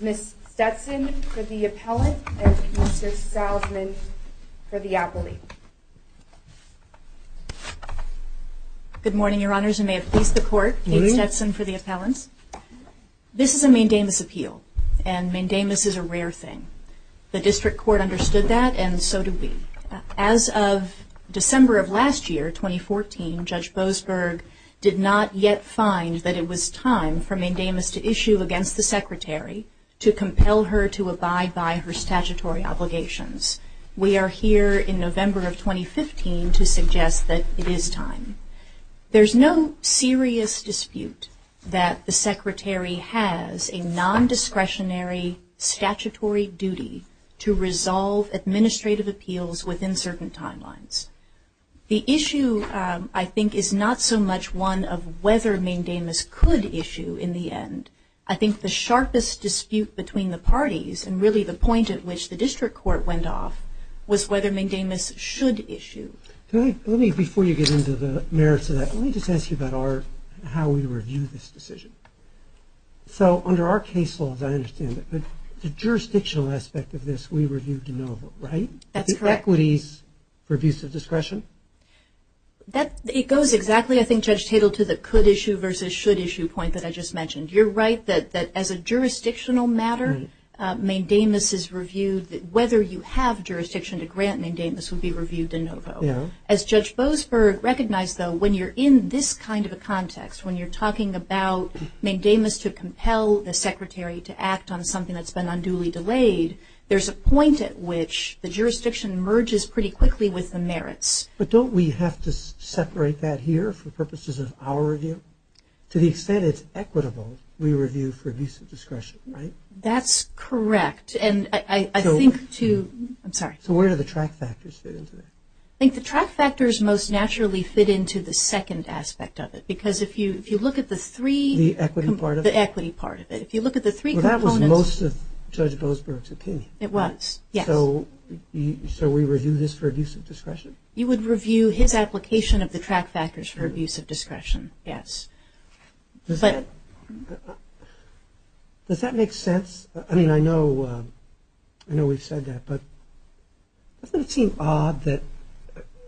Ms. Stetson for the appellant, and Mr. Salzman for the appellate. Good morning, Your Honors, and may it please the Court, Kate Stetson for the appellant. This is a main-day investigation of a case in which a woman was found to be a victim of sexual assault, and Mandamus is a rare thing. The District Court understood that, and so did we. As of December of last year, 2014, Judge Boasberg did not yet find that it was time for Mandamus to issue against the Secretary to compel her to abide by her statutory obligations. We are here in November of 2015 to suggest that it is time. There's no serious dispute that the Secretary has a nondiscretionary statutory duty to resolve administrative appeals within certain timelines. The issue, I think, is not so much one of whether Mandamus could issue in the end. I think the sharpest dispute between the parties, and really the point at which the District Court went off, was whether Mandamus should issue. Before you get into the merits of that, let me just ask you about how we review this decision. Under our case law, as I understand it, the jurisdictional aspect of this, we review de novo, right? That's correct. It goes exactly, I think, Judge Tatel, to the could-issue versus should-issue point that I just mentioned. You're right that as a jurisdictional matter, Mandamus is reviewed. Whether you have jurisdiction to grant Mandamus would be reviewed de novo. As Judge Boasberg recognized, though, when you're in this kind of a context, when you're talking about Mandamus to compel the Secretary to act on something that's been unduly delayed, there's a point at which the jurisdiction merges pretty quickly with the merits. But don't we have to separate that here for purposes of our review? To the extent it's equitable, we review for abuse of discretion, right? That's correct. Where do the track factors fit into that? I think the track factors most naturally fit into the second aspect of it. The equity part of it. It was, yes. So we review this for abuse of discretion? You would review his application of the track factors for abuse of discretion, yes. Does that make sense? I mean, I know we've said that, but doesn't it seem odd that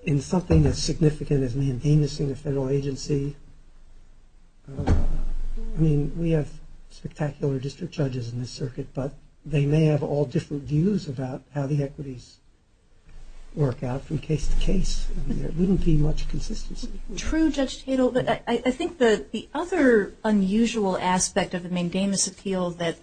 in something as significant as Mandamus in the federal agency, I mean, we have spectacular district judges in this circuit, but they may have all different views about how the equities work out from case to case. There wouldn't be much consistency. True, Judge Tatel, but I think the other unusual aspect of the Mandamus appeal that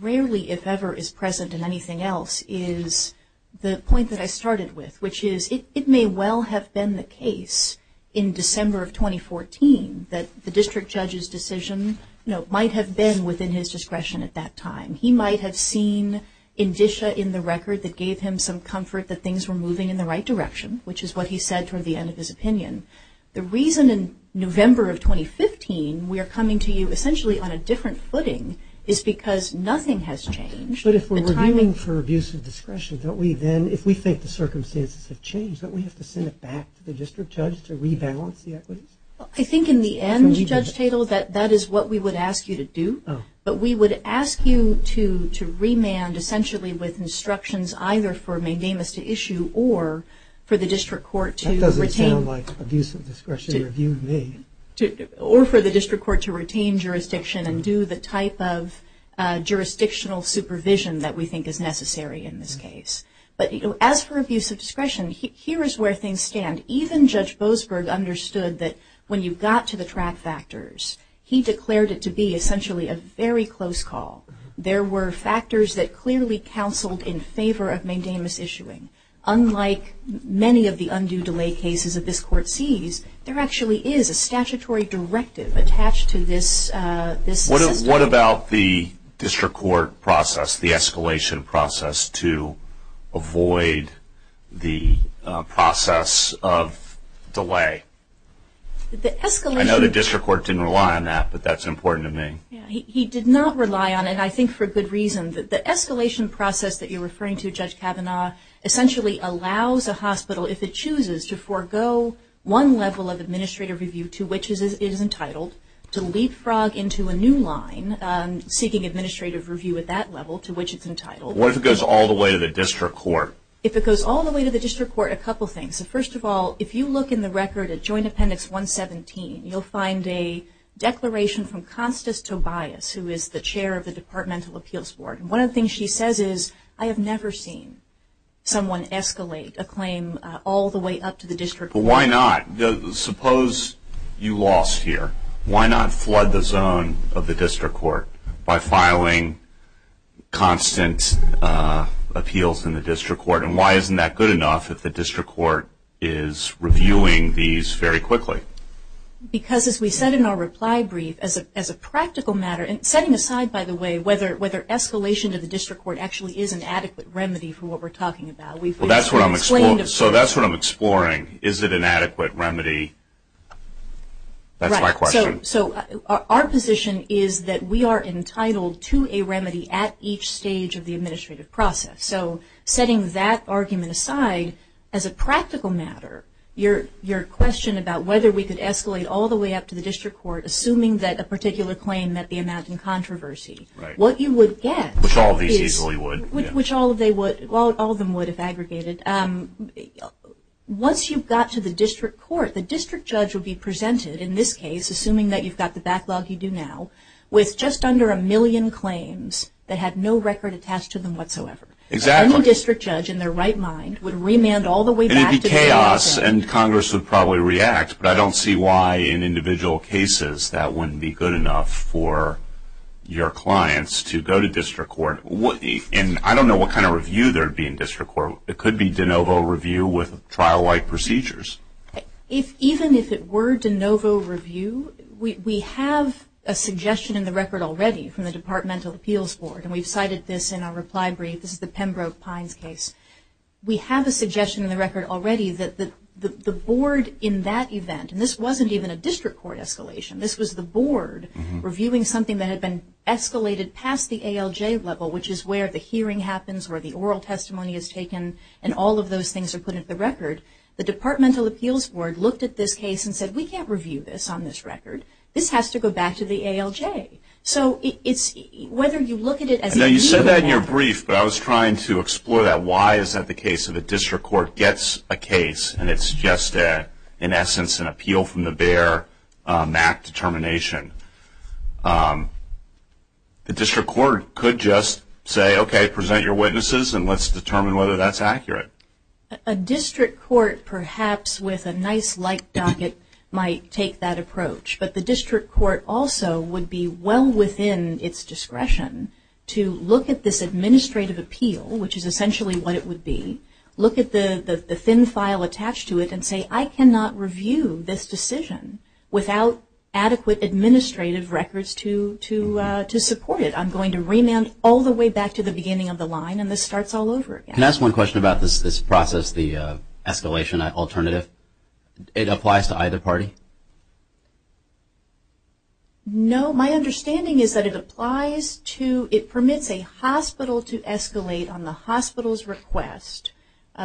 rarely, if ever, is present in anything else is the point that I started with, which is it may well have been the case in December of 2014 that the district judge's decision might have been within his discretion at that time. He might have seen indicia in the record that gave him some comfort that things were moving in the right direction, which is what he said toward the end of his opinion. The reason in November of 2015 we are coming to you essentially on a different footing is because nothing has changed. But if we're reviewing for abuse of discretion, don't we then, if we think the circumstances have changed, don't we have to send it back to the district judge to rebalance the equities? I think in the end, Judge Tatel, that is what we would ask you to do, but we would ask you to remand essentially with instructions either for Mandamus to issue or for the district court to retain. That doesn't sound like abuse of discretion review to me. Or for the district court to retain jurisdiction and do the type of jurisdictional supervision that we think is necessary in this case. But as for abuse of discretion, here is where things stand. Even Judge Boasberg understood that when you got to the track factors, he declared it to be essentially a very close call. There were factors that clearly counseled in favor of Mandamus issuing. Unlike many of the undue delay cases that this court sees, there actually is a statutory directive attached to this system. What about the district court process, the escalation process to avoid the process of delay? I know the district court didn't rely on that, but that's important to me. He did not rely on it, and I think for good reason. The escalation process that you are referring to, Judge Kavanaugh, essentially allows a hospital, if it chooses to forego one level of administrative review to which it is entitled, to leapfrog into a new line seeking administrative review at that level to which it is entitled. What if it goes all the way to the district court? If it goes all the way to the district court, a couple things. First of all, if you look in the record at Joint Appendix 117, you'll find a declaration from Constance Tobias, who is the chair of the Departmental Appeals Board. One of the things she says is, I have never seen someone escalate a claim all the way up to the district court. Why not? Suppose you lost here. Why not flood the zone of the district court by filing constant appeals in the district court? And why isn't that good enough if the district court is reviewing these very quickly? Because, as we said in our reply brief, as a practical matter, and setting aside, by the way, whether escalation to the district court actually is an adequate remedy for what we're talking about. That's what I'm exploring. Is it an adequate remedy? That's my question. Our position is that we are entitled to a remedy at each stage of the administrative process. Setting that argument aside, as a practical matter, your question about whether we could escalate all the way up to the district court, assuming that a particular claim met the amount in controversy, what you would get, which all of them would if aggregated, once you've got to the district court, the district judge would be presented, in this case, assuming that you've got the backlog you do now, with just under a million claims that have no record attached to them whatsoever. Any district judge, in their right mind, would remand all the way back to the district court. It would be chaos, and Congress would probably react, but I don't see why, in individual cases, that wouldn't be good enough for your clients to go to district court. I don't know what kind of review there would be in district court. It could be de novo review with trial-like procedures. Even if it were de novo review, we have a suggestion in the record already from the departmental appeals board, and we've cited this in our reply brief. This is the Pembroke-Pines case. We have a suggestion in the record already that the board, in that event, and this wasn't even a district court escalation. This was the board reviewing something that had been escalated past the ALJ level, which is where the hearing happens, where the oral testimony is taken, and all of those things are put into the record. The departmental appeals board looked at this case and said, we can't review this on this record. This has to go back to the ALJ. So whether you look at it as a review board. Now, you said that in your brief, but I was trying to explore that. Why is that the case that the district court gets a case, and it's just, in essence, an appeal from the bear, a MAC determination? The district court could just say, okay, present your witnesses, and let's determine whether that's accurate. A district court, perhaps with a nice light docket, might take that approach. But the district court also would be well within its discretion to look at this administrative appeal, which is essentially what it would be, look at the thin file attached to it and say, I cannot review this decision without adequate administrative records to support it. I'm going to remand all the way back to the beginning of the line, and this starts all over again. Can I ask one question about this process, the escalation alternative? It applies to either party? No. My understanding is that it applies to, it permits a hospital to escalate on the hospital's request.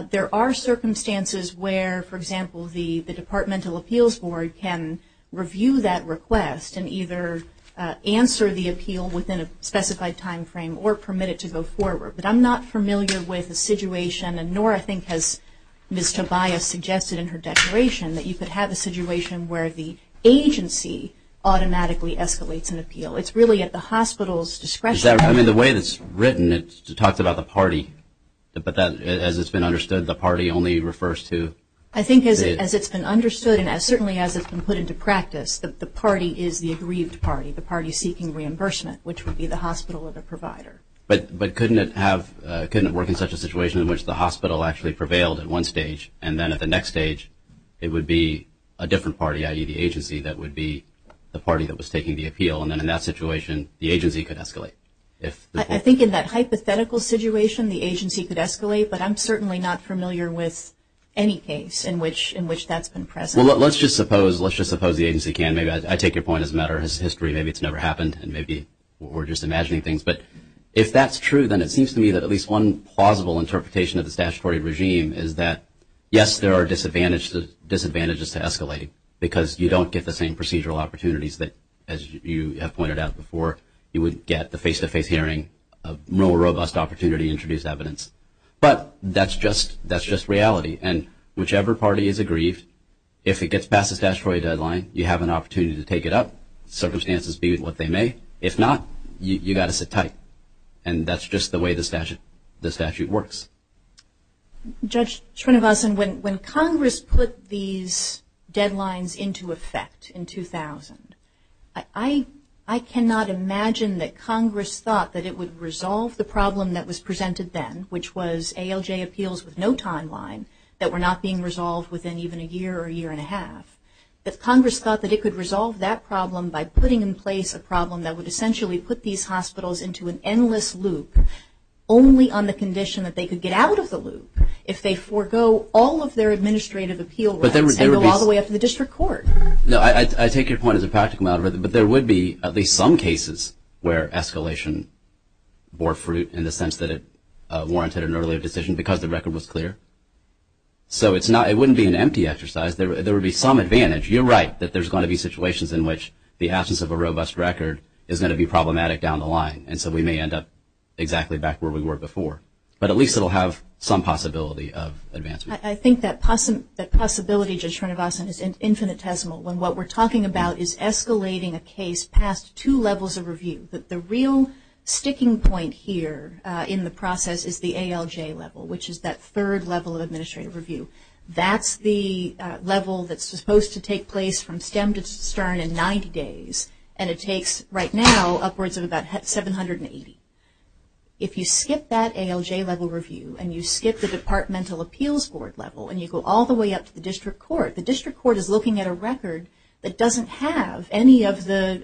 There are circumstances where, for example, the departmental appeals board can review that request and either answer the appeal within a specified timeframe or permit it to go forward. But I'm not familiar with the situation, and nor I think has Ms. Tobias suggested in her declaration, that you could have a situation where the agency automatically escalates an appeal. It's really at the hospital's discretion. I mean, the way it's written, it talks about the party. But as it's been understood, the party only refers to? I think as it's been understood, and certainly as it's been put into practice, the party is the aggrieved party, the party seeking reimbursement, which would be the hospital or the provider. But couldn't it have, couldn't it work in such a situation in which the hospital actually prevailed at one stage and then at the next stage it would be a different party, i.e., the agency, that would be the party that was taking the appeal, and then in that situation the agency could escalate? I think in that hypothetical situation the agency could escalate, but I'm certainly not familiar with any case in which that's been present. Well, let's just suppose the agency can. Maybe I take your point as a matter of history. Maybe it's never happened, and maybe we're just imagining things. But if that's true, then it seems to me that at least one plausible interpretation of the statutory regime is that, yes, there are disadvantages to escalating, because you don't get the same procedural opportunities that, as you have pointed out before, you would get the face-to-face hearing, a more robust opportunity to introduce evidence. But that's just reality. And whichever party is aggrieved, if it gets past the statutory deadline, you have an opportunity to take it up. Circumstances be what they may. If not, you've got to sit tight. And that's just the way the statute works. Judge Srinivasan, when Congress put these deadlines into effect in 2000, I cannot imagine that Congress thought that it would resolve the problem that was presented then, which was ALJ appeals with no timeline that were not being resolved within even a year or a year and a half, that Congress thought that it could resolve that problem by putting in place a problem that would essentially put these hospitals into an endless loop only on the condition that they could get out of the loop if they forego all of their administrative appeal rights and go all the way up to the district court. I take your point as a practical matter, but there would be at least some cases where escalation bore fruit in the sense that it warranted an earlier decision because the record was clear. So it wouldn't be an empty exercise. There would be some advantage. You're right that there's going to be situations in which the absence of a robust record is going to be problematic down the line, and so we may end up exactly back where we were before. But at least it will have some possibility of advancement. I think that possibility, Judge Srinivasan, is infinitesimal, when what we're talking about is escalating a case past two levels of review. But the real sticking point here in the process is the ALJ level, which is that third level of administrative review. That's the level that's supposed to take place from stem to stern in 90 days, and it takes right now upwards of about 780. If you skip that ALJ level review and you skip the departmental appeals board level and you go all the way up to the district court, the district court is looking at a record that doesn't have any of the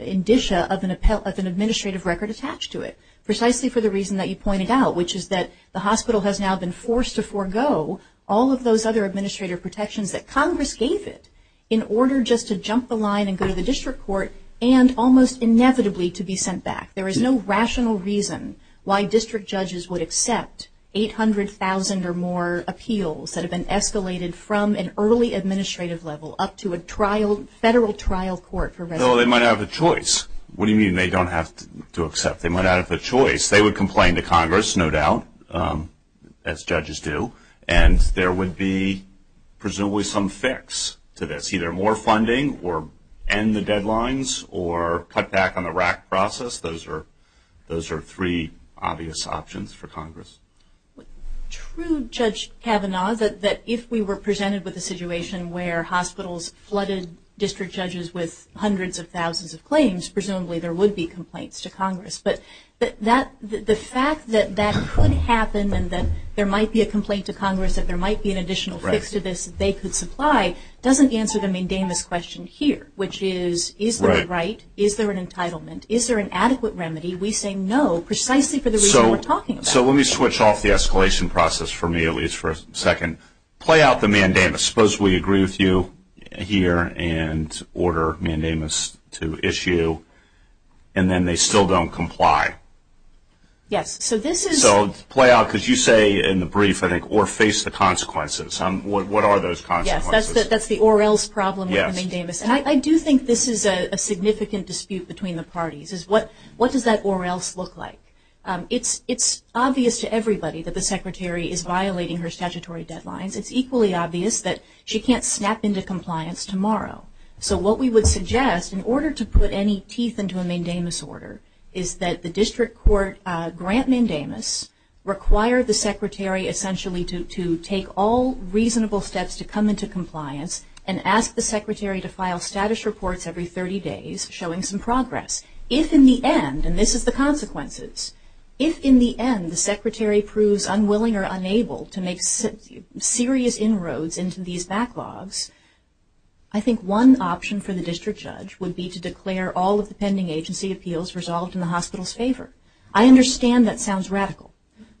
indicia of an administrative record attached to it, precisely for the reason that you pointed out, which is that the hospital has now been forced to forego all of those other administrative protections that Congress gave it in order just to jump the line and go to the district court and almost inevitably to be sent back. There is no rational reason why district judges would accept 800,000 or more appeals that have been escalated from an early administrative level up to a federal trial court. They might have a choice. What do you mean they don't have to accept? They might not have a choice. They would complain to Congress, no doubt, as judges do, and there would be presumably some fix to this, either more funding or end the deadlines or cut back on the RAC process. Those are three obvious options for Congress. True, Judge Kavanaugh, that if we were presented with a situation where hospitals flooded district judges with hundreds of thousands of claims, presumably there would be complaints to Congress, but the fact that that could happen and that there might be a complaint to Congress, that there might be an additional fix to this that they could supply, doesn't answer the main damus question here, which is, is there a right? Is there an entitlement? Is there an adequate remedy? We say no, precisely for the reason we're talking about. So let me switch off the escalation process for me, at least for a second. Play out the main damus. Suppose we agree with you here and order main damus to issue, and then they still don't comply. Yes, so this is. So play out, because you say in the brief, I think, or face the consequences. What are those consequences? Yes, that's the or else problem with the main damus, and I do think this is a significant dispute between the parties, is what does that or else look like? It's obvious to everybody that the secretary is violating her statutory deadlines. It's equally obvious that she can't snap into compliance tomorrow. So what we would suggest, in order to put any teeth into a main damus order, is that the district court grant main damus require the secretary essentially to take all reasonable steps to come into compliance and ask the secretary to file status reports every 30 days, showing some progress. If, in the end, and this is the consequences, if, in the end, the secretary proves unwilling or unable to make serious inroads into these backlogs, I think one option for the district judge would be to declare all of the pending agency appeals resolved in the hospital's favor. I understand that sounds radical,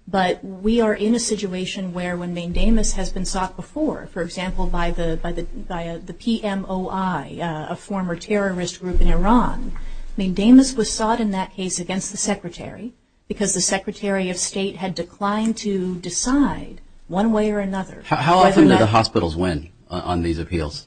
but we are in a situation where when main damus has been sought before, for example, by the PMOI, a former terrorist group in Iran, main damus was sought in that case against the secretary because the secretary of state had declined to decide one way or another. How often do the hospitals win on these appeals?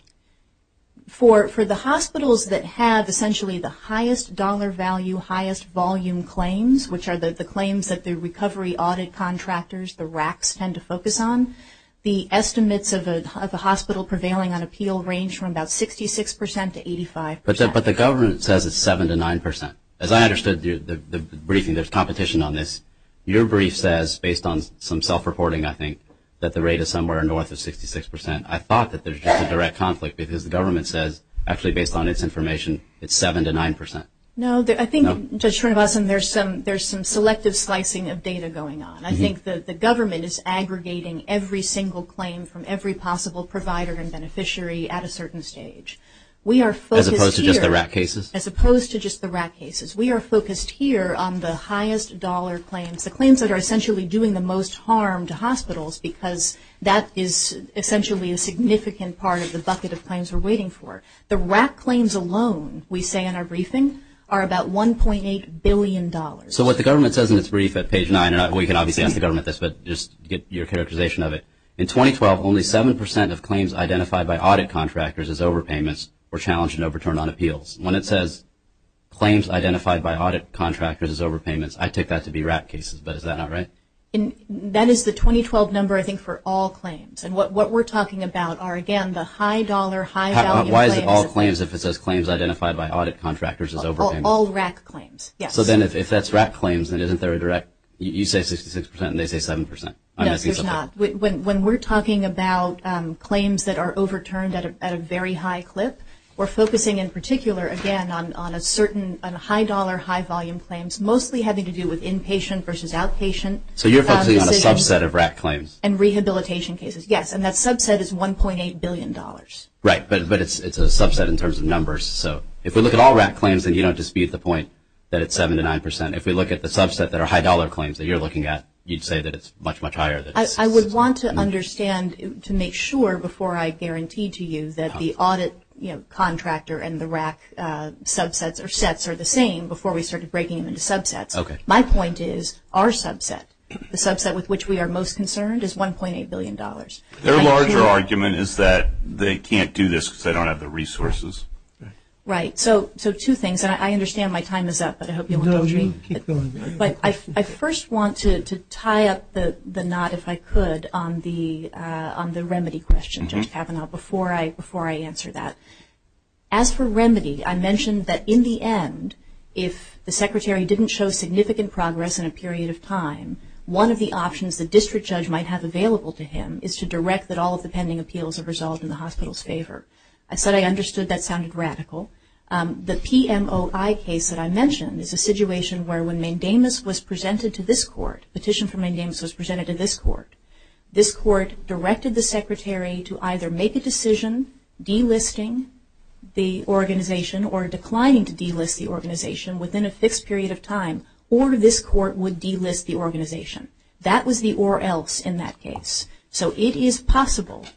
For the hospitals that have essentially the highest dollar value, highest volume claims, which are the claims that the recovery audit contractors, the RACs, tend to focus on, the estimates of a hospital prevailing on appeal range from about 66 percent to 85 percent. But the government says it's 7 to 9 percent. As I understood the briefing, there's competition on this. Your brief says, based on some self-reporting, I think, that the rate is somewhere north of 66 percent. I thought that there's just a direct conflict because the government says, actually based on its information, it's 7 to 9 percent. No, I think, Judge Srinivasan, there's some selective slicing of data going on. I think that the government is aggregating every single claim from every possible provider and beneficiary at a certain stage. As opposed to just the RAC cases? As opposed to just the RAC cases. We are focused here on the highest dollar claims, the claims that are essentially doing the most harm to hospitals because that is essentially a significant part of the bucket of claims we're waiting for. The RAC claims alone, we say in our briefing, are about $1.8 billion. So what the government says in its brief at page 9, and we can obviously ask the government this, but just get your characterization of it. In 2012, only 7 percent of claims identified by audit contractors as overpayments were challenged and overturned on appeals. When it says claims identified by audit contractors as overpayments, I take that to be RAC cases, but is that not right? That is the 2012 number, I think, for all claims. And what we're talking about are, again, the high dollar, high value claims. Why is it all claims if it says claims identified by audit contractors as overpayments? All RAC claims, yes. So then if that's RAC claims, then isn't there a direct, you say 66 percent and they say 7 percent? No, there's not. When we're talking about claims that are overturned at a very high clip, we're focusing in particular, again, on a certain high dollar, high volume claims, mostly having to do with inpatient versus outpatient. So you're focusing on a subset of RAC claims? And rehabilitation cases, yes. And that subset is $1.8 billion. Right, but it's a subset in terms of numbers. So if we look at all RAC claims, then you don't dispute the point that it's 7 to 9 percent. If we look at the subset that are high dollar claims that you're looking at, you'd say that it's much, much higher. I would want to understand to make sure before I guarantee to you that the audit, you know, contractor and the RAC subsets or sets are the same before we start breaking them into subsets. Okay. My point is our subset, the subset with which we are most concerned, is $1.8 billion. Their larger argument is that they can't do this because they don't have the resources. Right. So two things. I understand my time is up, but I hope you won't judge me. No, you keep going. But I first want to tie up the knot, if I could, on the remedy question, Judge Kavanaugh, before I answer that. As for remedy, I mentioned that in the end, if the Secretary didn't show significant progress in a period of time, one of the options the district judge might have available to him is to direct that all of the pending appeals are resolved in the hospital's favor. I said I understood that sounded radical. The PMOI case that I mentioned is a situation where when Mandamus was presented to this court, petition from Mandamus was presented to this court, this court directed the Secretary to either make a decision delisting the organization or this court would delist the organization. That was the or else in that case. So it is possible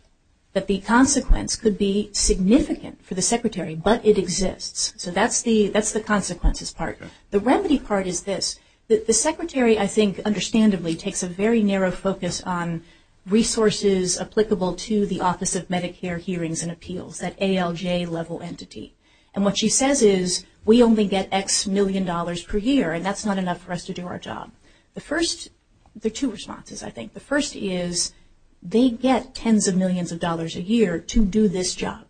that the consequence could be significant for the Secretary, but it exists. So that's the consequences part. The remedy part is this. The Secretary, I think, understandably, takes a very narrow focus on resources applicable to the Office of Medicare Hearings and Appeals, that ALJ level entity. And what she says is we only get X million dollars per year, and that's not enough for us to do our job. The first, there are two responses, I think. The first is they get tens of millions of dollars a year to do this job.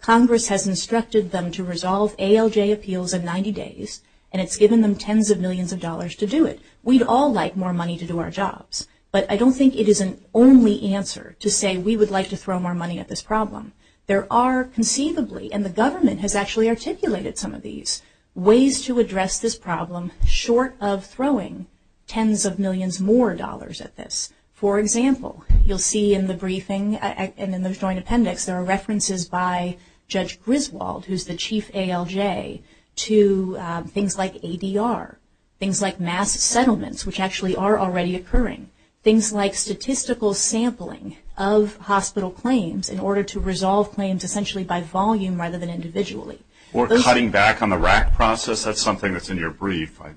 Congress has instructed them to resolve ALJ appeals in 90 days, and it's given them tens of millions of dollars to do it. We'd all like more money to do our jobs, but I don't think it is an only answer to say we would like to throw more money at this problem. There are conceivably, and the government has actually articulated some of these, ways to address this problem short of throwing tens of millions more dollars at this. For example, you'll see in the briefing and in the joint appendix, there are references by Judge Griswold, who's the chief ALJ, to things like ADR, things like mass settlements, which actually are already occurring, things like statistical sampling of hospital claims in order to resolve claims essentially by volume rather than individually. Or cutting back on the RAC process. That's something that's in your brief, I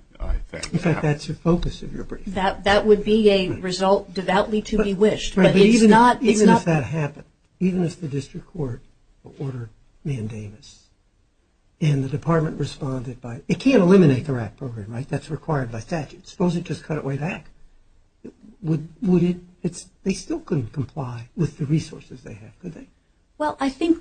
think. In fact, that's the focus of your brief. That would be a result devoutly to be wished. But even if that happened, even if the district court ordered mandamus, and the department responded by, it can't eliminate the RAC program, right? That's required by statute. Suppose it just cut it way back. Would it? They still couldn't comply with the resources they have, could they? Well, I think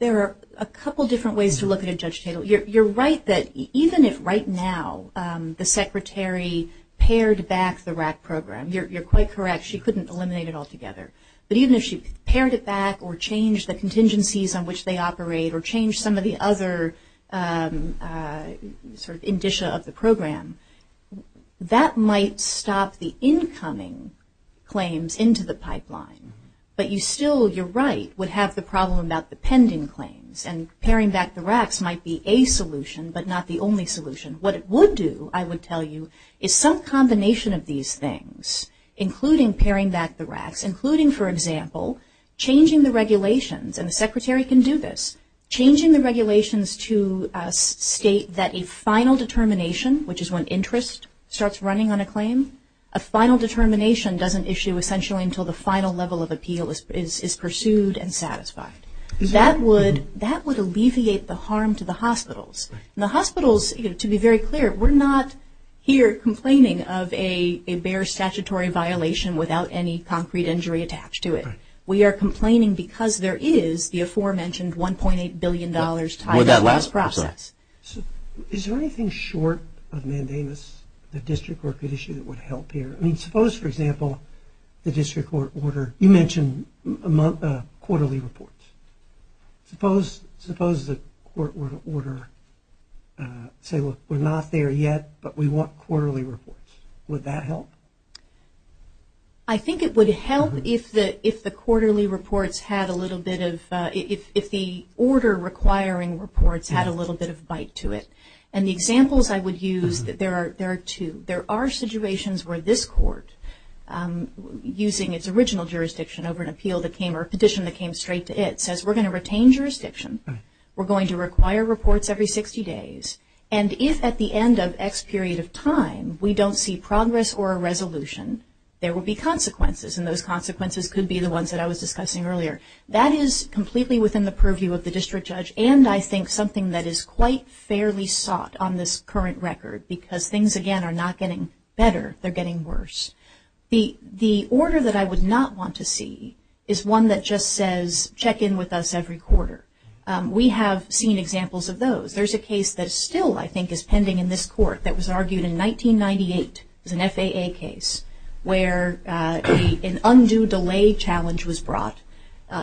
there are a couple different ways to look at it, Judge Tatel. You're right that even if right now the secretary pared back the RAC program, you're quite correct, she couldn't eliminate it altogether. But even if she pared it back or changed the contingencies on which they operate or changed some of the other sort of indicia of the program, that might stop the incoming claims into the pipeline. But you still, you're right, would have the problem about the pending claims. And paring back the RACs might be a solution but not the only solution. What it would do, I would tell you, is some combination of these things, including paring back the RACs, including, for example, changing the regulations. And the secretary can do this. Changing the regulations to state that a final determination, which is when interest starts running on a claim, a final determination doesn't issue essentially until the final level of appeal is pursued and satisfied. That would alleviate the harm to the hospitals. And the hospitals, to be very clear, we're not here complaining of a bare statutory violation without any concrete injury attached to it. We are complaining because there is the aforementioned $1.8 billion tied to the last process. Is there anything short of mandamus, the district record issue, that would help here? I mean, suppose, for example, the district court order, you mentioned quarterly reports. Suppose the court were to order, say, look, we're not there yet, but we want quarterly reports. Would that help? I think it would help if the quarterly reports had a little bit of, if the order requiring reports had a little bit of bite to it. And the examples I would use, there are two. There are situations where this court, using its original jurisdiction over an appeal that came, or a petition that came straight to it, says we're going to retain jurisdiction. We're going to require reports every 60 days. And if at the end of X period of time we don't see progress or a resolution, there will be consequences, and those consequences could be the ones that I was discussing earlier. That is completely within the purview of the district judge, and I think something that is quite fairly sought on this current record, because things, again, are not getting better. They're getting worse. The order that I would not want to see is one that just says, check in with us every quarter. We have seen examples of those. There's a case that still, I think, is pending in this court that was argued in 1998. It was an FAA case where an undue delay challenge was brought.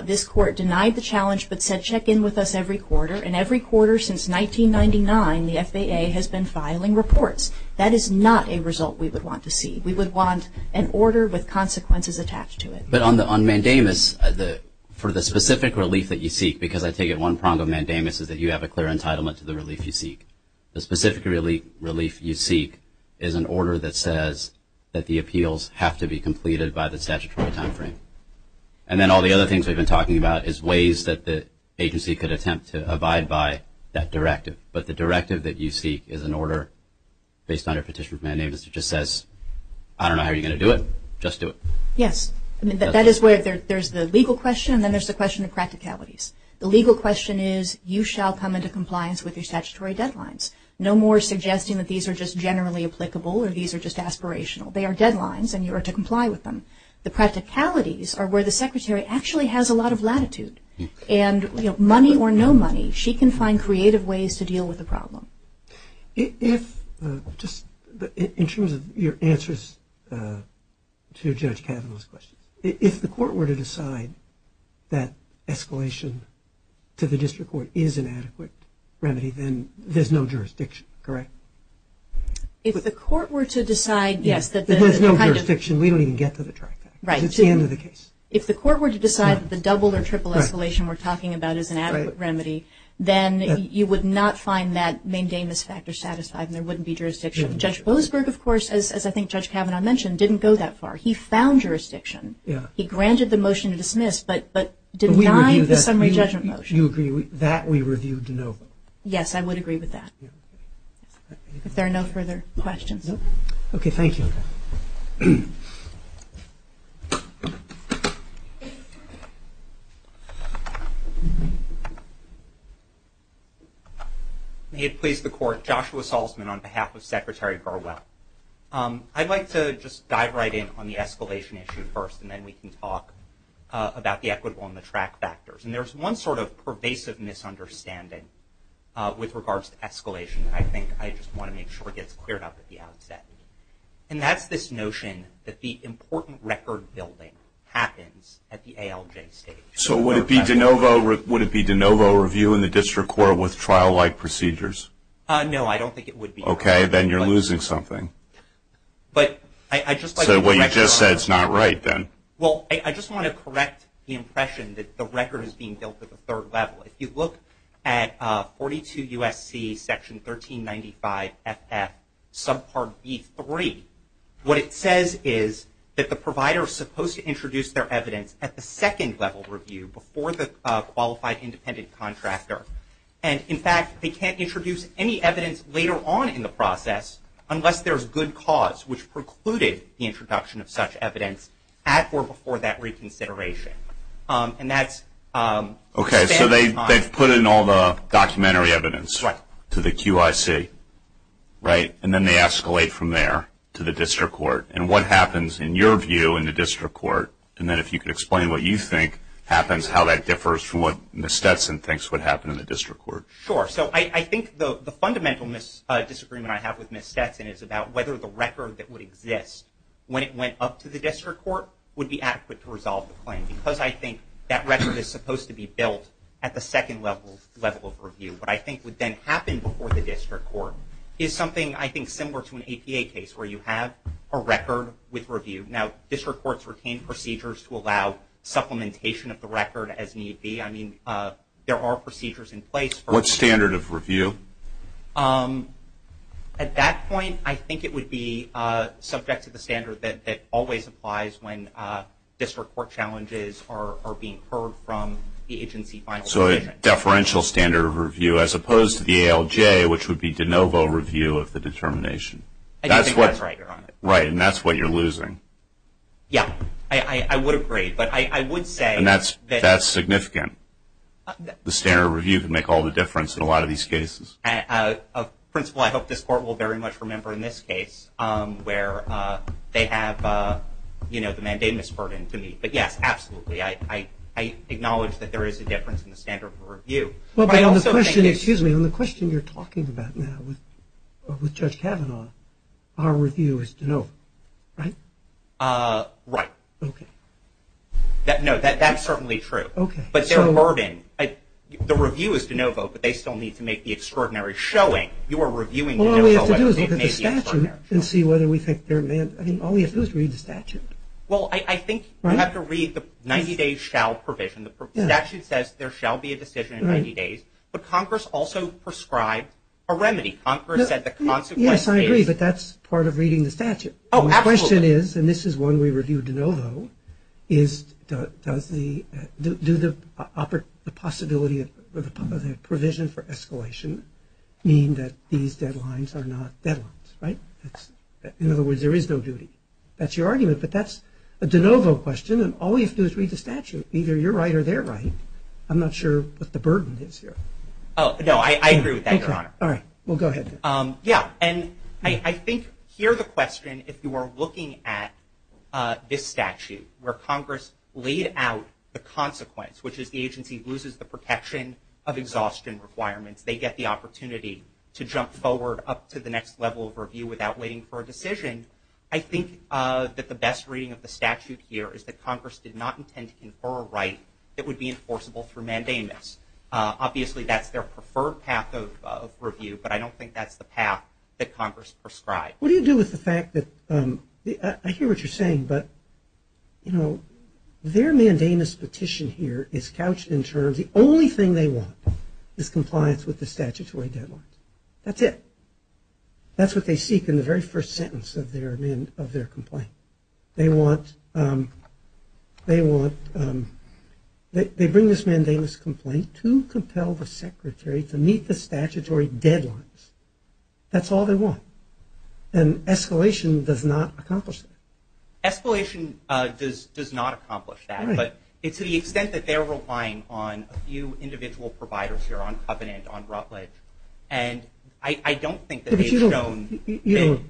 This court denied the challenge but said check in with us every quarter, and every quarter since 1999 the FAA has been filing reports. That is not a result we would want to see. We would want an order with consequences attached to it. But on mandamus, for the specific relief that you seek, because I take it one prong of mandamus is that you have a clear entitlement to the relief you seek. The specific relief you seek is an order that says that the appeals have to be completed by the statutory time frame. And then all the other things we've been talking about is ways that the agency could attempt to abide by that directive. But the directive that you seek is an order based on a petition of mandamus that just says, I don't know how you're going to do it, just do it. Yes. That is where there's the legal question and then there's the question of practicalities. The legal question is you shall come into compliance with your statutory deadlines. No more suggesting that these are just generally applicable or these are just aspirational. They are deadlines and you are to comply with them. The practicalities are where the secretary actually has a lot of latitude. And money or no money, she can find creative ways to deal with the problem. In terms of your answers to Judge Kavanaugh's question, if the court were to decide that escalation to the district court is an adequate remedy, then there's no jurisdiction, correct? If the court were to decide, yes. There's no jurisdiction. We don't even get to the direct act. It's the end of the case. If the court were to decide that the double or triple escalation we're talking about is an adequate remedy, then you would not find that main damage factor satisfied and there wouldn't be jurisdiction. Judge Boasberg, of course, as I think Judge Kavanaugh mentioned, didn't go that far. He found jurisdiction. He granted the motion to dismiss but denied the summary judgment motion. You agree with that? We reviewed no. Yes, I would agree with that. If there are no further questions. Okay. Thank you. May it please the Court, Joshua Salzman on behalf of Secretary Burwell. I'd like to just dive right in on the escalation issue first, and then we can talk about the equitable and the track factors. And there's one sort of pervasive misunderstanding with regards to escalation, I think. I just want to make sure it gets cleared up at the outset. And that's this notion that the important record building happens at the ALJ stage. So would it be de novo review in the district court with trial-like procedures? No, I don't think it would be. Okay. Then you're losing something. So what you just said is not right then. Well, I just want to correct the impression that the record is being built at the third level. If you look at 42 U.S.C. section 1395 FF subpart B3, what it says is that the provider is supposed to introduce their evidence at the second level review before the qualified independent contractor. And, in fact, they can't introduce any evidence later on in the process unless there's good cause, which precluded the introduction of such evidence at or before that reconsideration. Okay. So they've put in all the documentary evidence to the QIC, right? And then they escalate from there to the district court. And what happens, in your view, in the district court? And then if you could explain what you think happens, how that differs from what Ms. Stetson thinks would happen in the district court. Sure. So I think the fundamental disagreement I have with Ms. Stetson is about whether the record that would exist when it went up to the district court would be adequate to resolve the claim, because I think that record is supposed to be built at the second level of review. What I think would then happen before the district court is something I think similar to an APA case where you have a record with review. Now, district courts retain procedures to allow supplementation of the record as need be. I mean, there are procedures in place. What standard of review? At that point, I think it would be subject to the standard that always applies when district court challenges are being heard from the agency final decision. Deferential standard of review as opposed to the ALJ, which would be de novo review of the determination. I think that's right, Your Honor. Right, and that's what you're losing. Yeah, I would agree. But I would say that... And that's significant. The standard of review can make all the difference in a lot of these cases. Principal, I hope this court will very much remember in this case where they have, you know, the mandamus burden to meet. But, yes, absolutely. I acknowledge that there is a difference in the standard of review. Excuse me. On the question you're talking about now with Judge Kavanaugh, our review is de novo, right? Right. Okay. No, that's certainly true. Okay. But their burden... The review is de novo, but they still need to make the extraordinary showing. You are reviewing de novo... All we have to do is look at the statute and see whether we think they're... I mean, all we have to do is read the statute. Well, I think you have to read the 90 days shall provision. The statute says there shall be a decision in 90 days, but Congress also prescribed a remedy. Congress said the consequence is... Yes, I agree, but that's part of reading the statute. Oh, absolutely. The question is, and this is one we reviewed de novo, is does the... Do the possibility of the provision for escalation mean that these deadlines are not deadlines, right? In other words, there is no duty. That's your argument, but that's a de novo question, and all we have to do is read the statute. Either you're right or they're right. I'm not sure what the burden is here. Oh, no, I agree with that, Your Honor. All right. Well, go ahead. Yeah, and I think here the question, if you are looking at this statute where Congress laid out the consequence, which is the agency loses the protection of exhaustion requirements, they get the opportunity to jump forward up to the next level of review without waiting for a decision, and I think that the best reading of the statute here is that Congress did not intend to confer a right that would be enforceable through mandamus. Obviously, that's their preferred path of review, but I don't think that's the path that Congress prescribed. What do you do with the fact that, I hear what you're saying, but, you know, their mandamus petition here is couched in terms, the only thing they want is compliance with the statutory deadlines. That's it. That's what they seek in the very first sentence of their complaint. They want, they bring this mandamus complaint to compel the secretary to meet the statutory deadlines. That's all they want. And escalation does not accomplish that. Escalation does not accomplish that. Right. But to the extent that they're relying on a few individual providers here up in it, on Rutledge, and I don't think that they've shown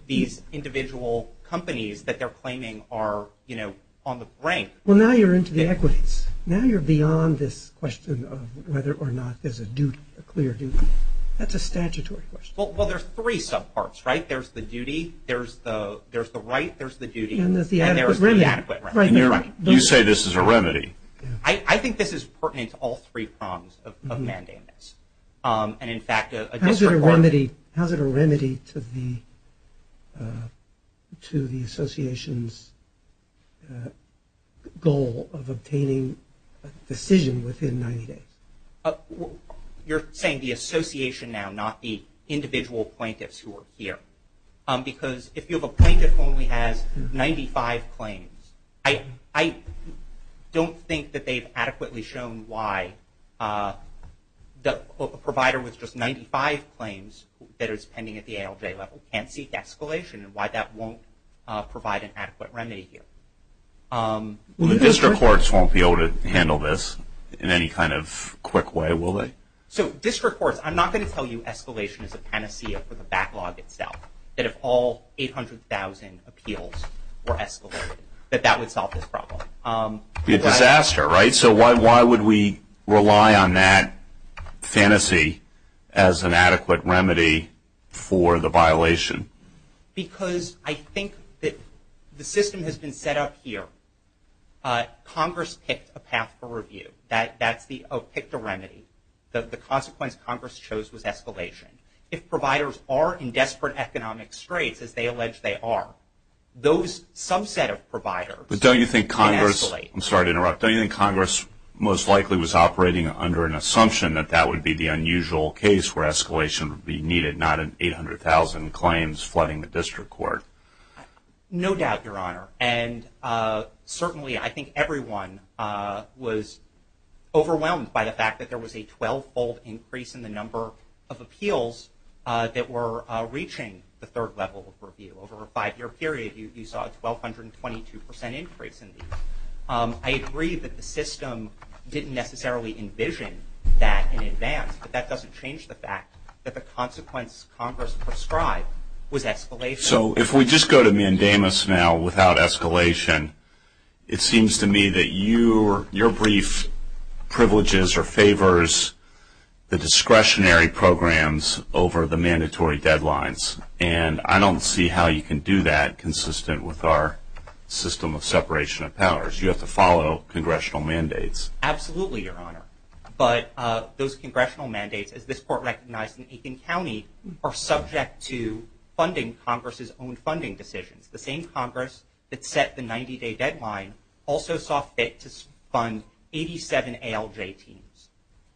these individual companies that they're claiming are, you know, on the brink. Well, now you're into the equities. Now you're beyond this question of whether or not there's a duty, a clear duty. That's a statutory question. Well, there's three subparts, right? There's the duty, there's the right, there's the duty, and there's the adequate remedy. You say this is a remedy. I think this is pertinent to all three prongs of mandamus. And, in fact, a district court. How is it a remedy to the association's goal of obtaining a decision within 90 days? You're saying the association now, not the individual plaintiffs who are here. Because if you have a plaintiff who only has 95 claims, I don't think that they've adequately shown why a provider with just 95 claims that is pending at the ALJ level can't seek escalation and why that won't provide an adequate remedy here. The district courts won't be able to handle this in any kind of quick way, will they? So district courts, I'm not going to tell you escalation is a panacea for the backlog itself. That if all 800,000 appeals were escalated, that that would solve this problem. It would be a disaster, right? So why would we rely on that fantasy as an adequate remedy for the violation? Because I think that the system has been set up here. Congress picked a path for review. That's the, oh, picked a remedy. The consequence Congress chose was escalation. If providers are in desperate economic straits, as they allege they are, those subset of providers can escalate. But don't you think Congress, I'm sorry to interrupt, don't you think Congress most likely was operating under an assumption that that would be the unusual case where escalation would be needed, not an 800,000 claims flooding the district court? No doubt, Your Honor. And certainly I think everyone was overwhelmed by the fact that there was a 12-fold increase in the number of appeals that were reaching the third level of review. Over a five-year period, you saw a 1,222% increase in these. I agree that the system didn't necessarily envision that in advance, but that doesn't change the fact that the consequence Congress prescribed was escalation. So if we just go to mandamus now without escalation, it seems to me that your brief privileges or favors the discretionary programs over the mandatory deadlines. And I don't see how you can do that consistent with our system of separation of powers. You have to follow congressional mandates. Absolutely, Your Honor. But those congressional mandates, as this court recognized in Aiken County, are subject to funding Congress's own funding decisions. The same Congress that set the 90-day deadline also saw fit to fund 87 ALJ teams.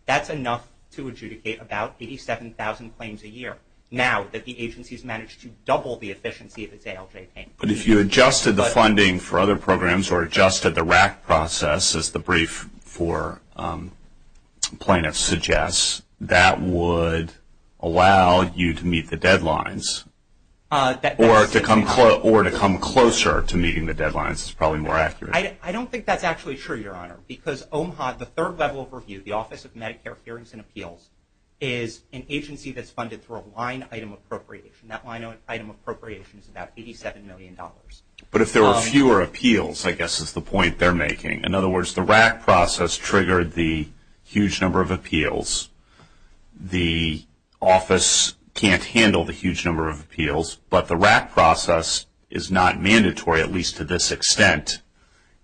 That's enough to adjudicate about 87,000 claims a year, now that the agency has managed to double the efficiency of its ALJ teams. But if you adjusted the funding for other programs or adjusted the RAC process, as the brief for plaintiffs suggests, that would allow you to meet the deadlines, or to come closer to meeting the deadlines is probably more accurate. I don't think that's actually true, Your Honor, because OMHA, the third level of review, the Office of Medicare Hearings and Appeals, is an agency that's funded through a line-item appropriation. That line-item appropriation is about $87 million. But if there were fewer appeals, I guess is the point they're making. In other words, the RAC process triggered the huge number of appeals. The office can't handle the huge number of appeals, but the RAC process is not mandatory, at least to this extent.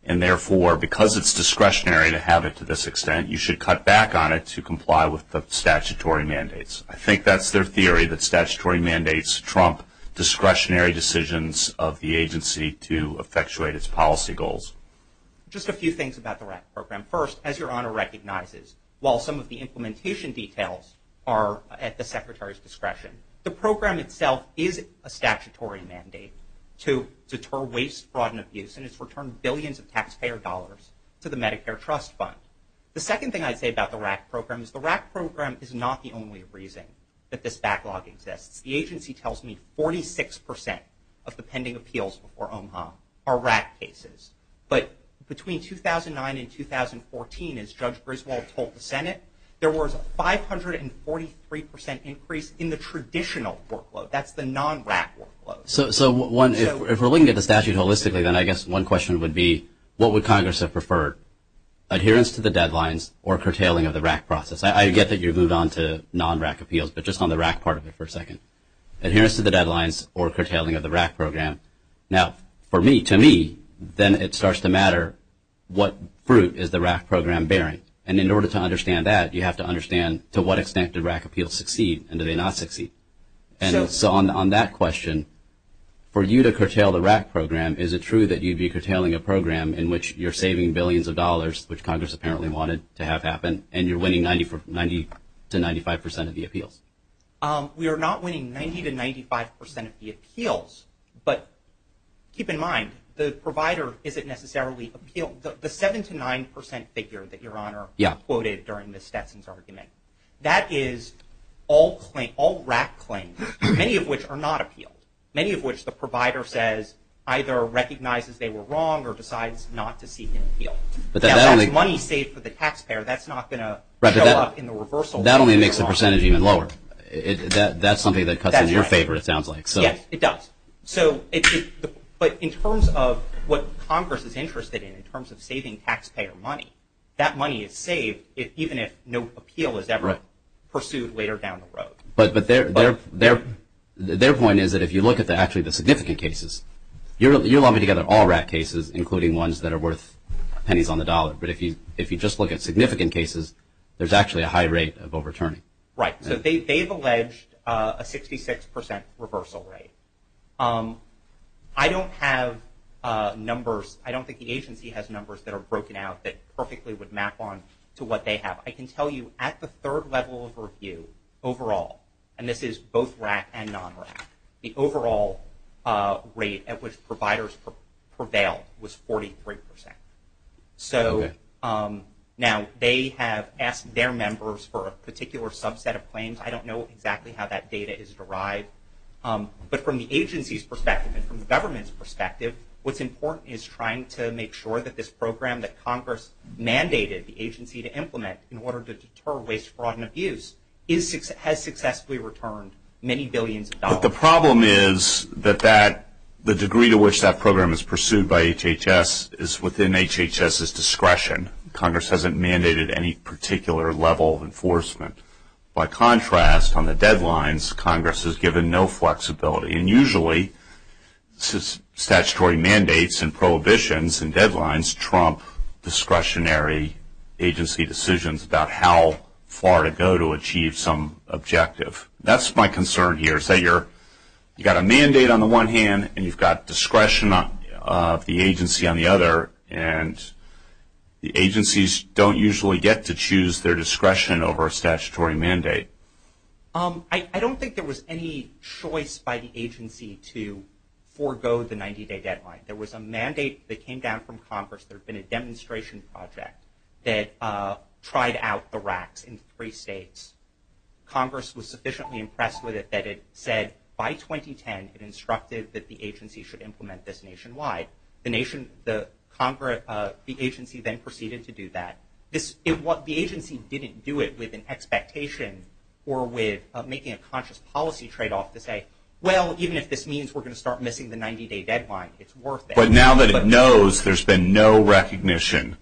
And therefore, because it's discretionary to have it to this extent, you should cut back on it to comply with the statutory mandates. I think that's their theory, that statutory mandates trump discretionary decisions of the agency to effectuate its policy goals. Just a few things about the RAC program. First, as Your Honor recognizes, while some of the implementation details are at the Secretary's discretion, the program itself is a statutory mandate to deter waste, fraud, and abuse, and it's returned billions of taxpayer dollars to the Medicare Trust Fund. The second thing I'd say about the RAC program is the RAC program is not the only reason that this backlog exists. The agency tells me 46% of the pending appeals before OMHA are RAC cases. But between 2009 and 2014, as Judge Griswold told the Senate, there was a 543% increase in the traditional workload. That's the non-RAC workload. So if we're looking at the statute holistically, then I guess one question would be, what would Congress have preferred, adherence to the deadlines or curtailing of the RAC process? I get that you moved on to non-RAC appeals, but just on the RAC part of it for a second. Adherence to the deadlines or curtailing of the RAC program. Now, for me, to me, then it starts to matter what fruit is the RAC program bearing. And in order to understand that, you have to understand to what extent do RAC appeals succeed and do they not succeed. So on that question, for you to curtail the RAC program, is it true that you'd be curtailing a program in which you're saving billions of dollars, which Congress apparently wanted to have happen, and you're winning 90% to 95% of the appeals? We are not winning 90% to 95% of the appeals. But keep in mind, the provider isn't necessarily appeal. The 7% to 9% figure that Your Honor quoted during Ms. Stetson's argument, that is all RAC claims, many of which are not appeal, many of which the provider says either recognizes they were wrong or decides not to seek an appeal. That's money saved for the taxpayer. That's not going to show up in the reversal. That only makes the percentage even lower. That's something that cuts in your favor, it sounds like. Yes, it does. But in terms of what Congress is interested in, in terms of saving taxpayer money, But their point is that if you look at actually the significant cases, you're lumping together all RAC cases, including ones that are worth pennies on the dollar. But if you just look at significant cases, there's actually a high rate of overturning. Right. So they've alleged a 66% reversal rate. I don't have numbers, I don't think the agency has numbers that are broken out that perfectly would map on to what they have. I can tell you at the third level of review overall, and this is both RAC and non-RAC, the overall rate at which providers prevailed was 43%. So now they have asked their members for a particular subset of claims. I don't know exactly how that data is derived. But from the agency's perspective and from the government's perspective, what's important is trying to make sure that this program that Congress mandated the agency to implement in order to deter waste, fraud, and abuse has successfully returned many billions of dollars. But the problem is that the degree to which that program is pursued by HHS is within HHS's discretion. Congress hasn't mandated any particular level of enforcement. By contrast, on the deadlines, Congress has given no flexibility. And usually statutory mandates and prohibitions and deadlines trump discretionary agency decisions about how far to go to achieve some objective. That's my concern here, is that you've got a mandate on the one hand and you've got discretion of the agency on the other, and the agencies don't usually get to choose their discretion over a statutory mandate. I don't think there was any choice by the agency to forego the 90-day deadline. There was a mandate that came down from Congress. There had been a demonstration project that tried out the racks in three states. Congress was sufficiently impressed with it that it said by 2010 it instructed that the agency should implement this nationwide. The agency then proceeded to do that. The agency didn't do it with an expectation or with making a conscious policy tradeoff to say, well, even if this means we're going to start missing the 90-day deadline, it's worth it. But now that it knows there's been no recognition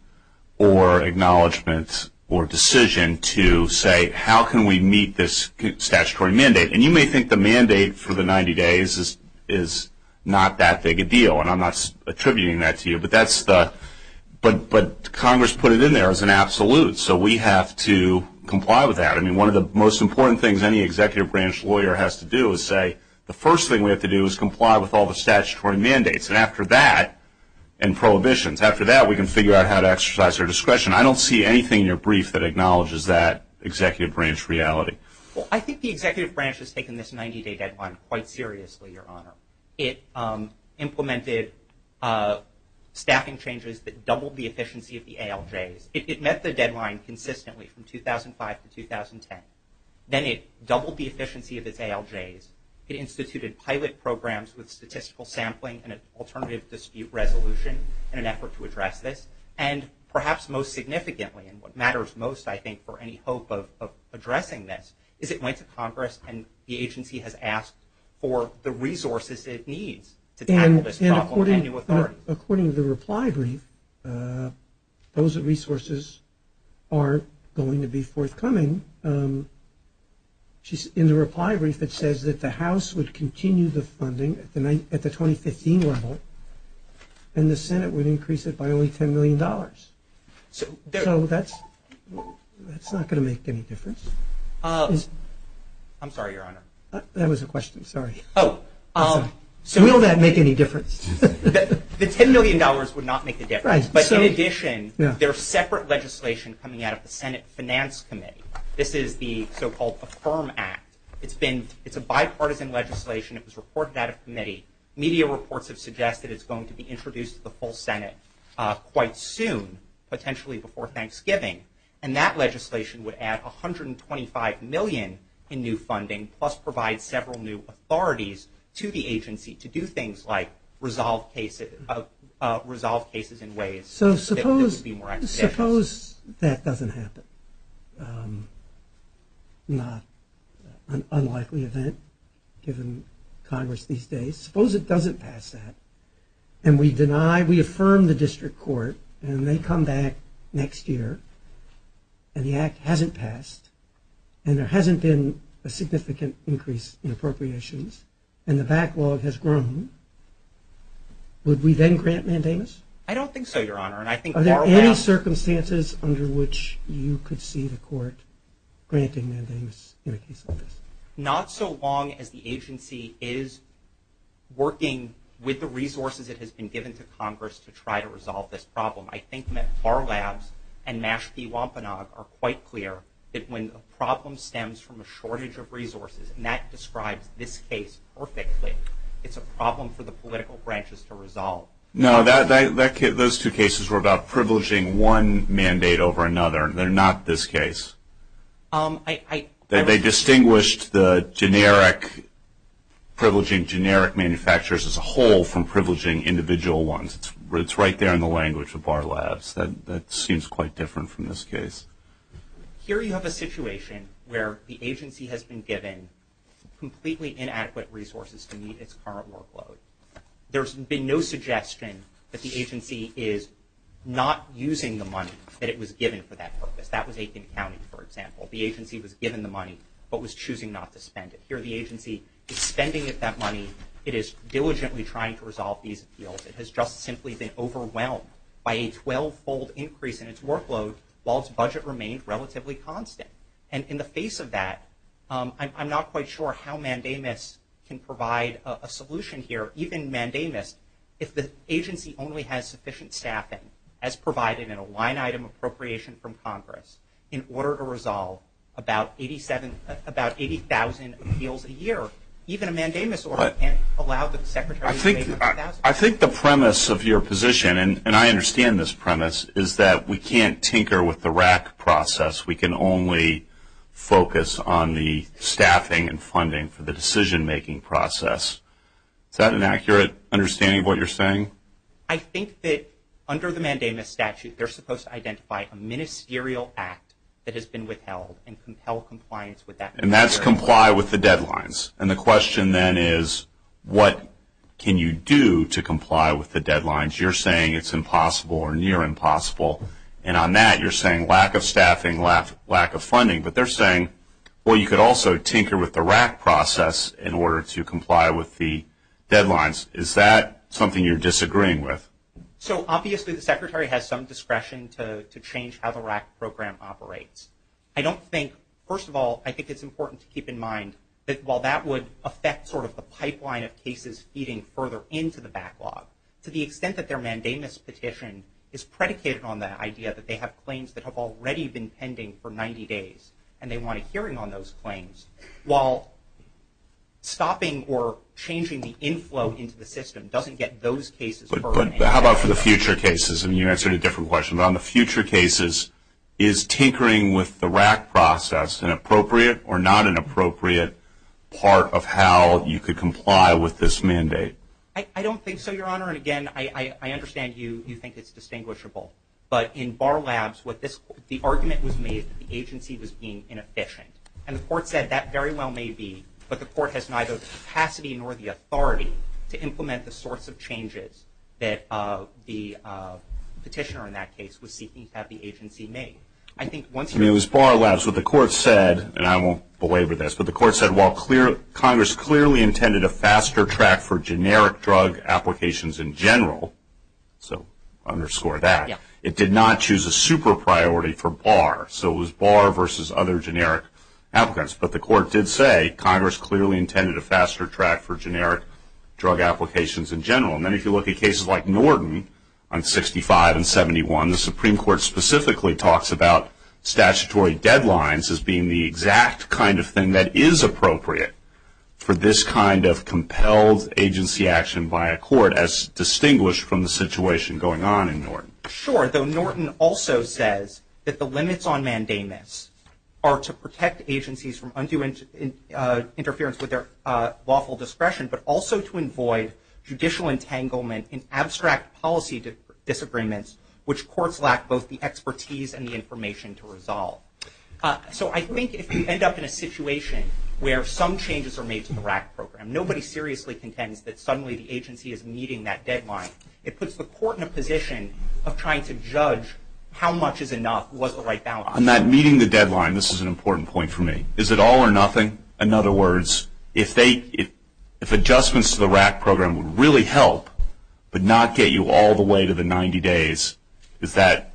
or acknowledgment or decision to say, how can we meet this statutory mandate? And you may think the mandate for the 90 days is not that big a deal, and I'm not attributing that to you. But Congress put it in there as an absolute, so we have to comply with that. I mean, one of the most important things any executive branch lawyer has to do is say, the first thing we have to do is comply with all the statutory mandates. And after that, and prohibitions, after that we can figure out how to exercise their discretion. I don't see anything in your brief that acknowledges that executive branch reality. Well, I think the executive branch has taken this 90-day deadline quite seriously, Your Honor. It implemented staffing changes that doubled the efficiency of the ALJs. It met the deadline consistently from 2005 to 2010. Then it doubled the efficiency of its ALJs. It instituted pilot programs with statistical sampling and an alternative dispute resolution in an effort to address this. And perhaps most significantly, and what matters most, I think, for any hope of addressing this, is it went to Congress and the agency has asked for the resources it needs to tackle this problem. And according to the reply brief, those resources are going to be forthcoming. In the reply brief it says that the House would continue the funding at the 2015 level, and the Senate would increase it by only $10 million. So that's not going to make any difference. I'm sorry, Your Honor. That was a question, sorry. Will that make any difference? The $10 million would not make a difference. But in addition, there's separate legislation coming out of the Senate Finance Committee. This is the so-called Affirm Act. It's a bipartisan legislation. It was reported out of committee. Media reports have suggested it's going to be introduced to the full Senate quite soon, potentially before Thanksgiving. And that legislation would add $125 million in new funding, plus provide several new authorities to the agency to do things like resolve cases in ways that would be more expeditious. So suppose that doesn't happen, an unlikely event given Congress these days. Suppose it doesn't pass that. And we deny, we affirm the district court, and they come back next year, and the act hasn't passed, and there hasn't been a significant increase in appropriations, and the backlog has grown. Would we then grant mandamus? I don't think so, Your Honor. Are there any circumstances under which you could see the court granting mandamus in a case like this? Not so long as the agency is working with the resources it has been given to Congress to try to resolve this problem. I think our labs and Mashpee Wampanoag are quite clear that when a problem stems from a shortage of resources, and that describes this case perfectly, it's a problem for the political branches to resolve. No, those two cases were about privileging one mandate over another. They're not this case. They distinguished the privileging generic manufacturers as a whole from privileging individual ones. It's right there in the language of our labs. That seems quite different from this case. Here you have a situation where the agency has been given completely inadequate resources to meet its current workload. There's been no suggestion that the agency is not using the money that it was given for that purpose. That was Aiken County, for example. The agency was given the money but was choosing not to spend it. Here the agency is spending that money. It is diligently trying to resolve these appeals. It has just simply been overwhelmed by a 12-fold increase in its workload while its budget remained relatively constant. And in the face of that, I'm not quite sure how mandamus can provide a solution here. Even mandamus, if the agency only has sufficient staffing, as provided in a line-item appropriation from Congress, in order to resolve about 80,000 appeals a year, even a mandamus order can't allow the Secretary to make 80,000. I think the premise of your position, and I understand this premise, is that we can't tinker with the RAC process. We can only focus on the staffing and funding for the decision-making process. Is that an accurate understanding of what you're saying? I think that under the mandamus statute, they're supposed to identify a ministerial act that has been withheld and compel compliance with that. And that's comply with the deadlines. And the question then is, what can you do to comply with the deadlines? You're saying it's impossible or near impossible. And on that, you're saying lack of staffing, lack of funding. But they're saying, well, you could also tinker with the RAC process in order to comply with the deadlines. Is that something you're disagreeing with? So obviously, the Secretary has some discretion to change how the RAC program operates. I don't think, first of all, I think it's important to keep in mind that while that would affect sort of the pipeline of cases feeding further into the backlog, to the extent that their mandamus petition is predicated on the idea that they have already been pending for 90 days and they want a hearing on those claims, while stopping or changing the inflow into the system doesn't get those cases further. But how about for the future cases? And you answered a different question. But on the future cases, is tinkering with the RAC process an appropriate or not an appropriate part of how you could comply with this mandate? I don't think so, Your Honor. And again, I understand you think it's distinguishable. But in Bar Labs, the argument was made that the agency was being inefficient. And the Court said that very well may be. But the Court has neither the capacity nor the authority to implement the sorts of changes that the petitioner, in that case, was seeking to have the agency make. I mean, it was Bar Labs. What the Court said, and I won't belabor this, but the Court said while Congress clearly intended a faster track for generic drug applications in general, so underscore that, it did not choose a super priority for Bar. So it was Bar versus other generic applicants. But the Court did say Congress clearly intended a faster track for generic drug applications in general. And then if you look at cases like Norton on 65 and 71, the Supreme Court specifically talks about statutory deadlines as being the exact kind of thing that is appropriate for this kind of compelled agency action by a court, as distinguished from the situation going on in Norton. Sure. Though Norton also says that the limits on mandamus are to protect agencies from undue interference with their lawful discretion, but also to avoid judicial entanglement in abstract policy disagreements, which courts lack both the expertise and the information to resolve. So I think if you end up in a situation where some changes are made to the RAC program, nobody seriously contends that suddenly the agency is meeting that deadline. It puts the Court in a position of trying to judge how much is enough, what's the right balance. On that meeting the deadline, this is an important point for me. Is it all or nothing? In other words, if adjustments to the RAC program would really help but not get you all the way to the 90 days, is that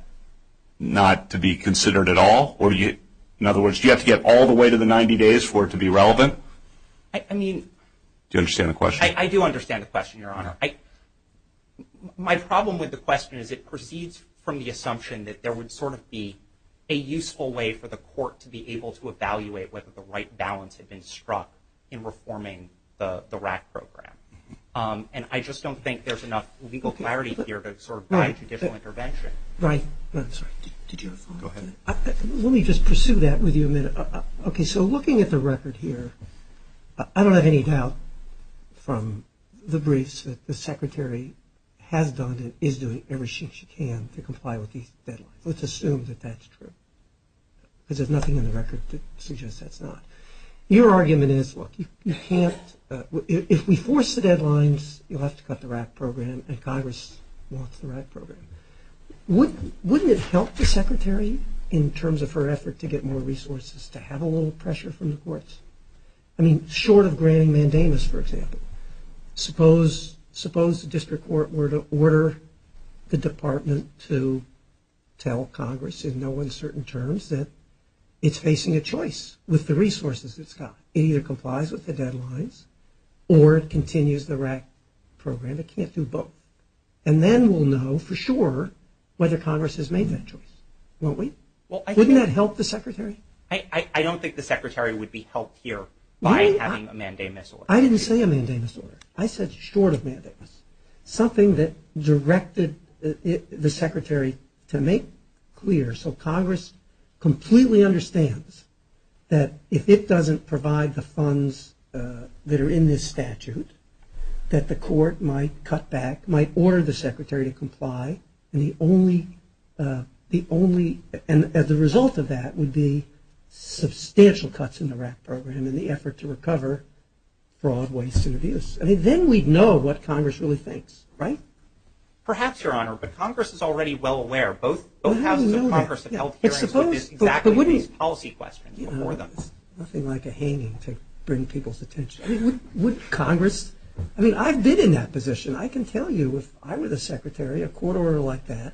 not to be considered at all? In other words, do you have to get all the way to the 90 days for it to be relevant? Do you understand the question? I do understand the question, Your Honor. My problem with the question is it proceeds from the assumption that there would sort of be a useful way for the Court to be able to evaluate whether the right balance had been struck in reforming the RAC program. And I just don't think there's enough legal clarity here to sort of buy a judicial intervention. Ryan, I'm sorry, did you have a follow-up? Go ahead. Let me just pursue that with you a minute. Okay, so looking at the record here, I don't have any doubt from the briefs that the Secretary has done and is doing everything she can to comply with these deadlines. Let's assume that that's true because there's nothing in the record that suggests that's not. Your argument is, look, you can't – if we force the deadlines, you'll have to cut the RAC program and Congress wants the RAC program. Wouldn't it help the Secretary in terms of her effort to get more resources to have a little pressure from the courts? I mean, short of granting mandamus, for example, suppose the District Court were to order the Department to tell Congress in no uncertain terms that it's facing a choice with the resources it's got. It either complies with the deadlines or it continues the RAC program. It can't do both. And then we'll know for sure whether Congress has made that choice, won't we? Wouldn't that help the Secretary? I don't think the Secretary would be helped here by having a mandamus order. I didn't say a mandamus order. I said short of mandamus, something that directed the Secretary to make clear so Congress completely understands that if it doesn't provide the funds that are in this statute, that the court might cut back, might order the Secretary to comply, and the only – and the result of that would be substantial cuts in the RAC program in the effort to recover fraud, waste, and abuse. I mean, then we'd know what Congress really thinks, right? Perhaps, Your Honor, but Congress is already well aware. Both houses of Congress have held hearings with exactly these policy questions before them. It's nothing like a hanging to bring people's attention. I mean, would Congress – I mean, I've been in that position. I can tell you if I were the Secretary, a court order like that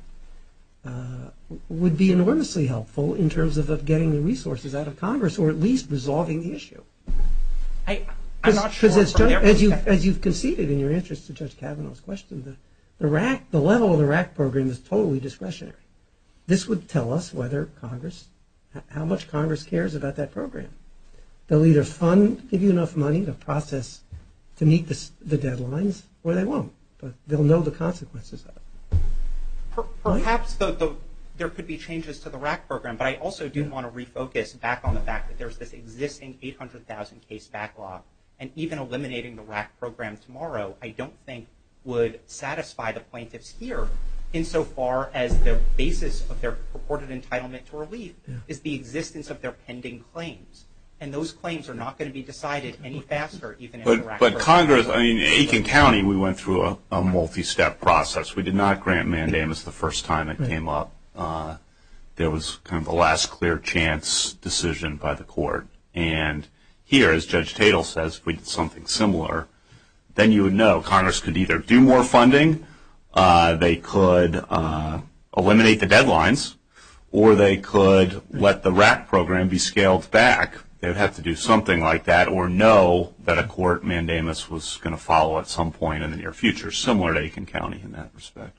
would be enormously helpful in terms of getting the resources out of Congress or at least resolving the issue. I'm not sure from their perspective. Because as you've conceded in your answers to Judge Kavanaugh's question, the level of the RAC program is totally discretionary. This would tell us whether Congress – how much Congress cares about that program. They'll either fund, give you enough money to process to meet the deadlines, or they won't. But they'll know the consequences of it. Perhaps there could be changes to the RAC program, but I also do want to refocus back on the fact that there's this existing 800,000 case backlog, and even eliminating the RAC program tomorrow I don't think would satisfy the plaintiffs here insofar as the basis of their purported entitlement to relief is the existence of their pending claims. And those claims are not going to be decided any faster even in the RAC program. But Congress – I mean, Aiken County, we went through a multi-step process. We did not grant mandamus the first time it came up. There was kind of a last clear chance decision by the court. And here, as Judge Tatel says, if we did something similar, then you would know Congress could either do more funding, they could eliminate the deadlines, or they could let the RAC program be scaled back. They would have to do something like that or know that a court mandamus was going to follow at some point in the near future, similar to Aiken County in that respect.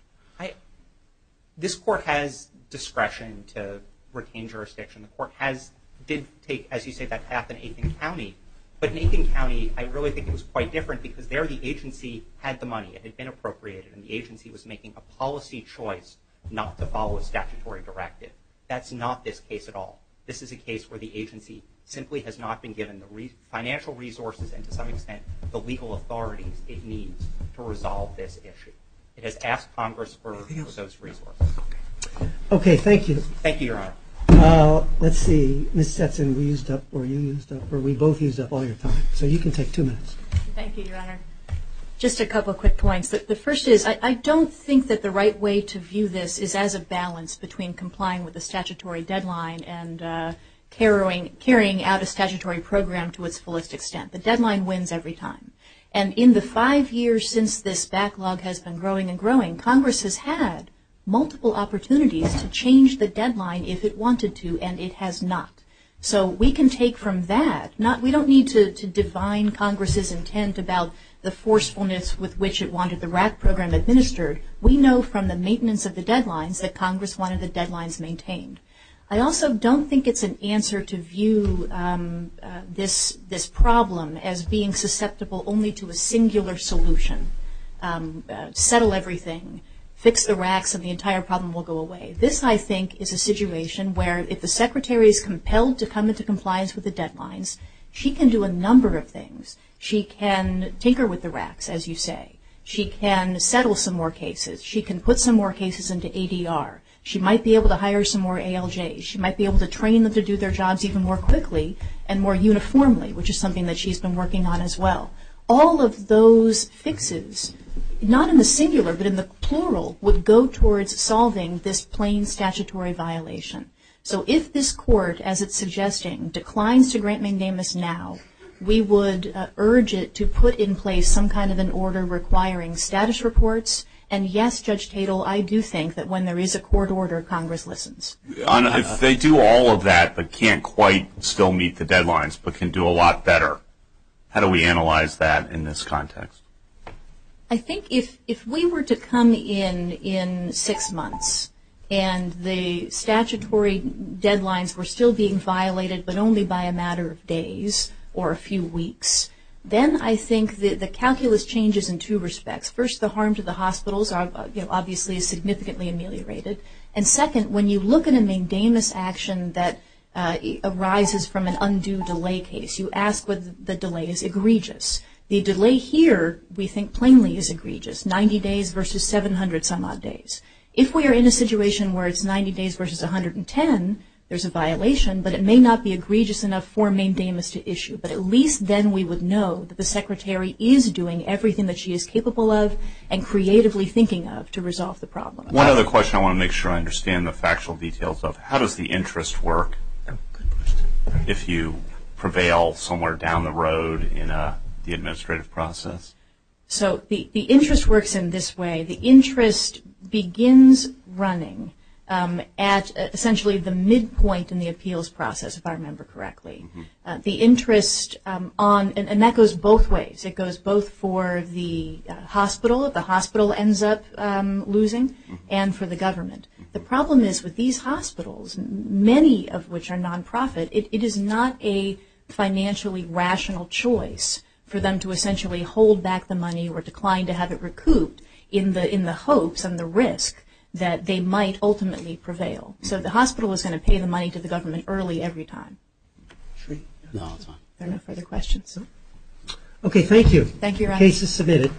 This court has discretion to retain jurisdiction. The court has – did take, as you say, that path in Aiken County. But in Aiken County, I really think it was quite different because there the agency had the money. It had been appropriated, and the agency was making a policy choice not to follow a statutory directive. That's not this case at all. This is a case where the agency simply has not been given the financial resources and to some extent the legal authorities it needs to resolve this issue. It has asked Congress for those resources. Okay, thank you. Thank you, Your Honor. Let's see. Ms. Stetson, we used up – or you used up – or we both used up all your time. So you can take two minutes. Thank you, Your Honor. Just a couple quick points. The first is I don't think that the right way to view this is as a balance between complying with a statutory deadline and carrying out a statutory program to its fullest extent. The deadline wins every time. And in the five years since this backlog has been growing and growing, Congress has had multiple opportunities to change the deadline if it wanted to, and it has not. So we can take from that. We don't need to define Congress's intent about the forcefulness with which it wanted the RAC program administered. We know from the maintenance of the deadlines that Congress wanted the deadlines maintained. I also don't think it's an answer to view this problem as being susceptible only to a singular solution, settle everything, fix the RACs, and the entire problem will go away. This, I think, is a situation where if the Secretary is compelled to come into compliance with the deadlines, she can do a number of things. She can tinker with the RACs, as you say. She can settle some more cases. She can put some more cases into ADR. She might be able to hire some more ALJs. She might be able to train them to do their jobs even more quickly and more uniformly, which is something that she's been working on as well. All of those fixes, not in the singular but in the plural, would go towards solving this plain statutory violation. So if this Court, as it's suggesting, declines to grant mandamus now, we would urge it to put in place some kind of an order requiring status reports. And yes, Judge Tatel, I do think that when there is a court order, Congress listens. If they do all of that but can't quite still meet the deadlines but can do a lot better, how do we analyze that in this context? I think if we were to come in in six months and the statutory deadlines were still being violated but only by a matter of days or a few weeks, then I think the calculus changes in two respects. First, the harm to the hospitals obviously is significantly ameliorated. And second, when you look at a mandamus action that arises from an undue delay case, you ask whether the delay is egregious. The delay here we think plainly is egregious, 90 days versus 700 some odd days. If we are in a situation where it's 90 days versus 110, there's a violation, but it may not be egregious enough for a mandamus to issue. But at least then we would know that the secretary is doing everything that she is capable of and creatively thinking of to resolve the problem. One other question I want to make sure I understand the factual details of. How does the interest work if you prevail somewhere down the road in the administrative process? So the interest works in this way. The interest begins running at essentially the midpoint in the appeals process, if I remember correctly. And that goes both ways. It goes both for the hospital, if the hospital ends up losing, and for the government. The problem is with these hospitals, many of which are nonprofit, it is not a financially rational choice for them to essentially hold back the money or decline to have it recouped in the hopes and the risk that they might ultimately prevail. So the hospital is going to pay the money to the government early every time. Okay, thank you. Thank you, Your Honor. The case is submitted.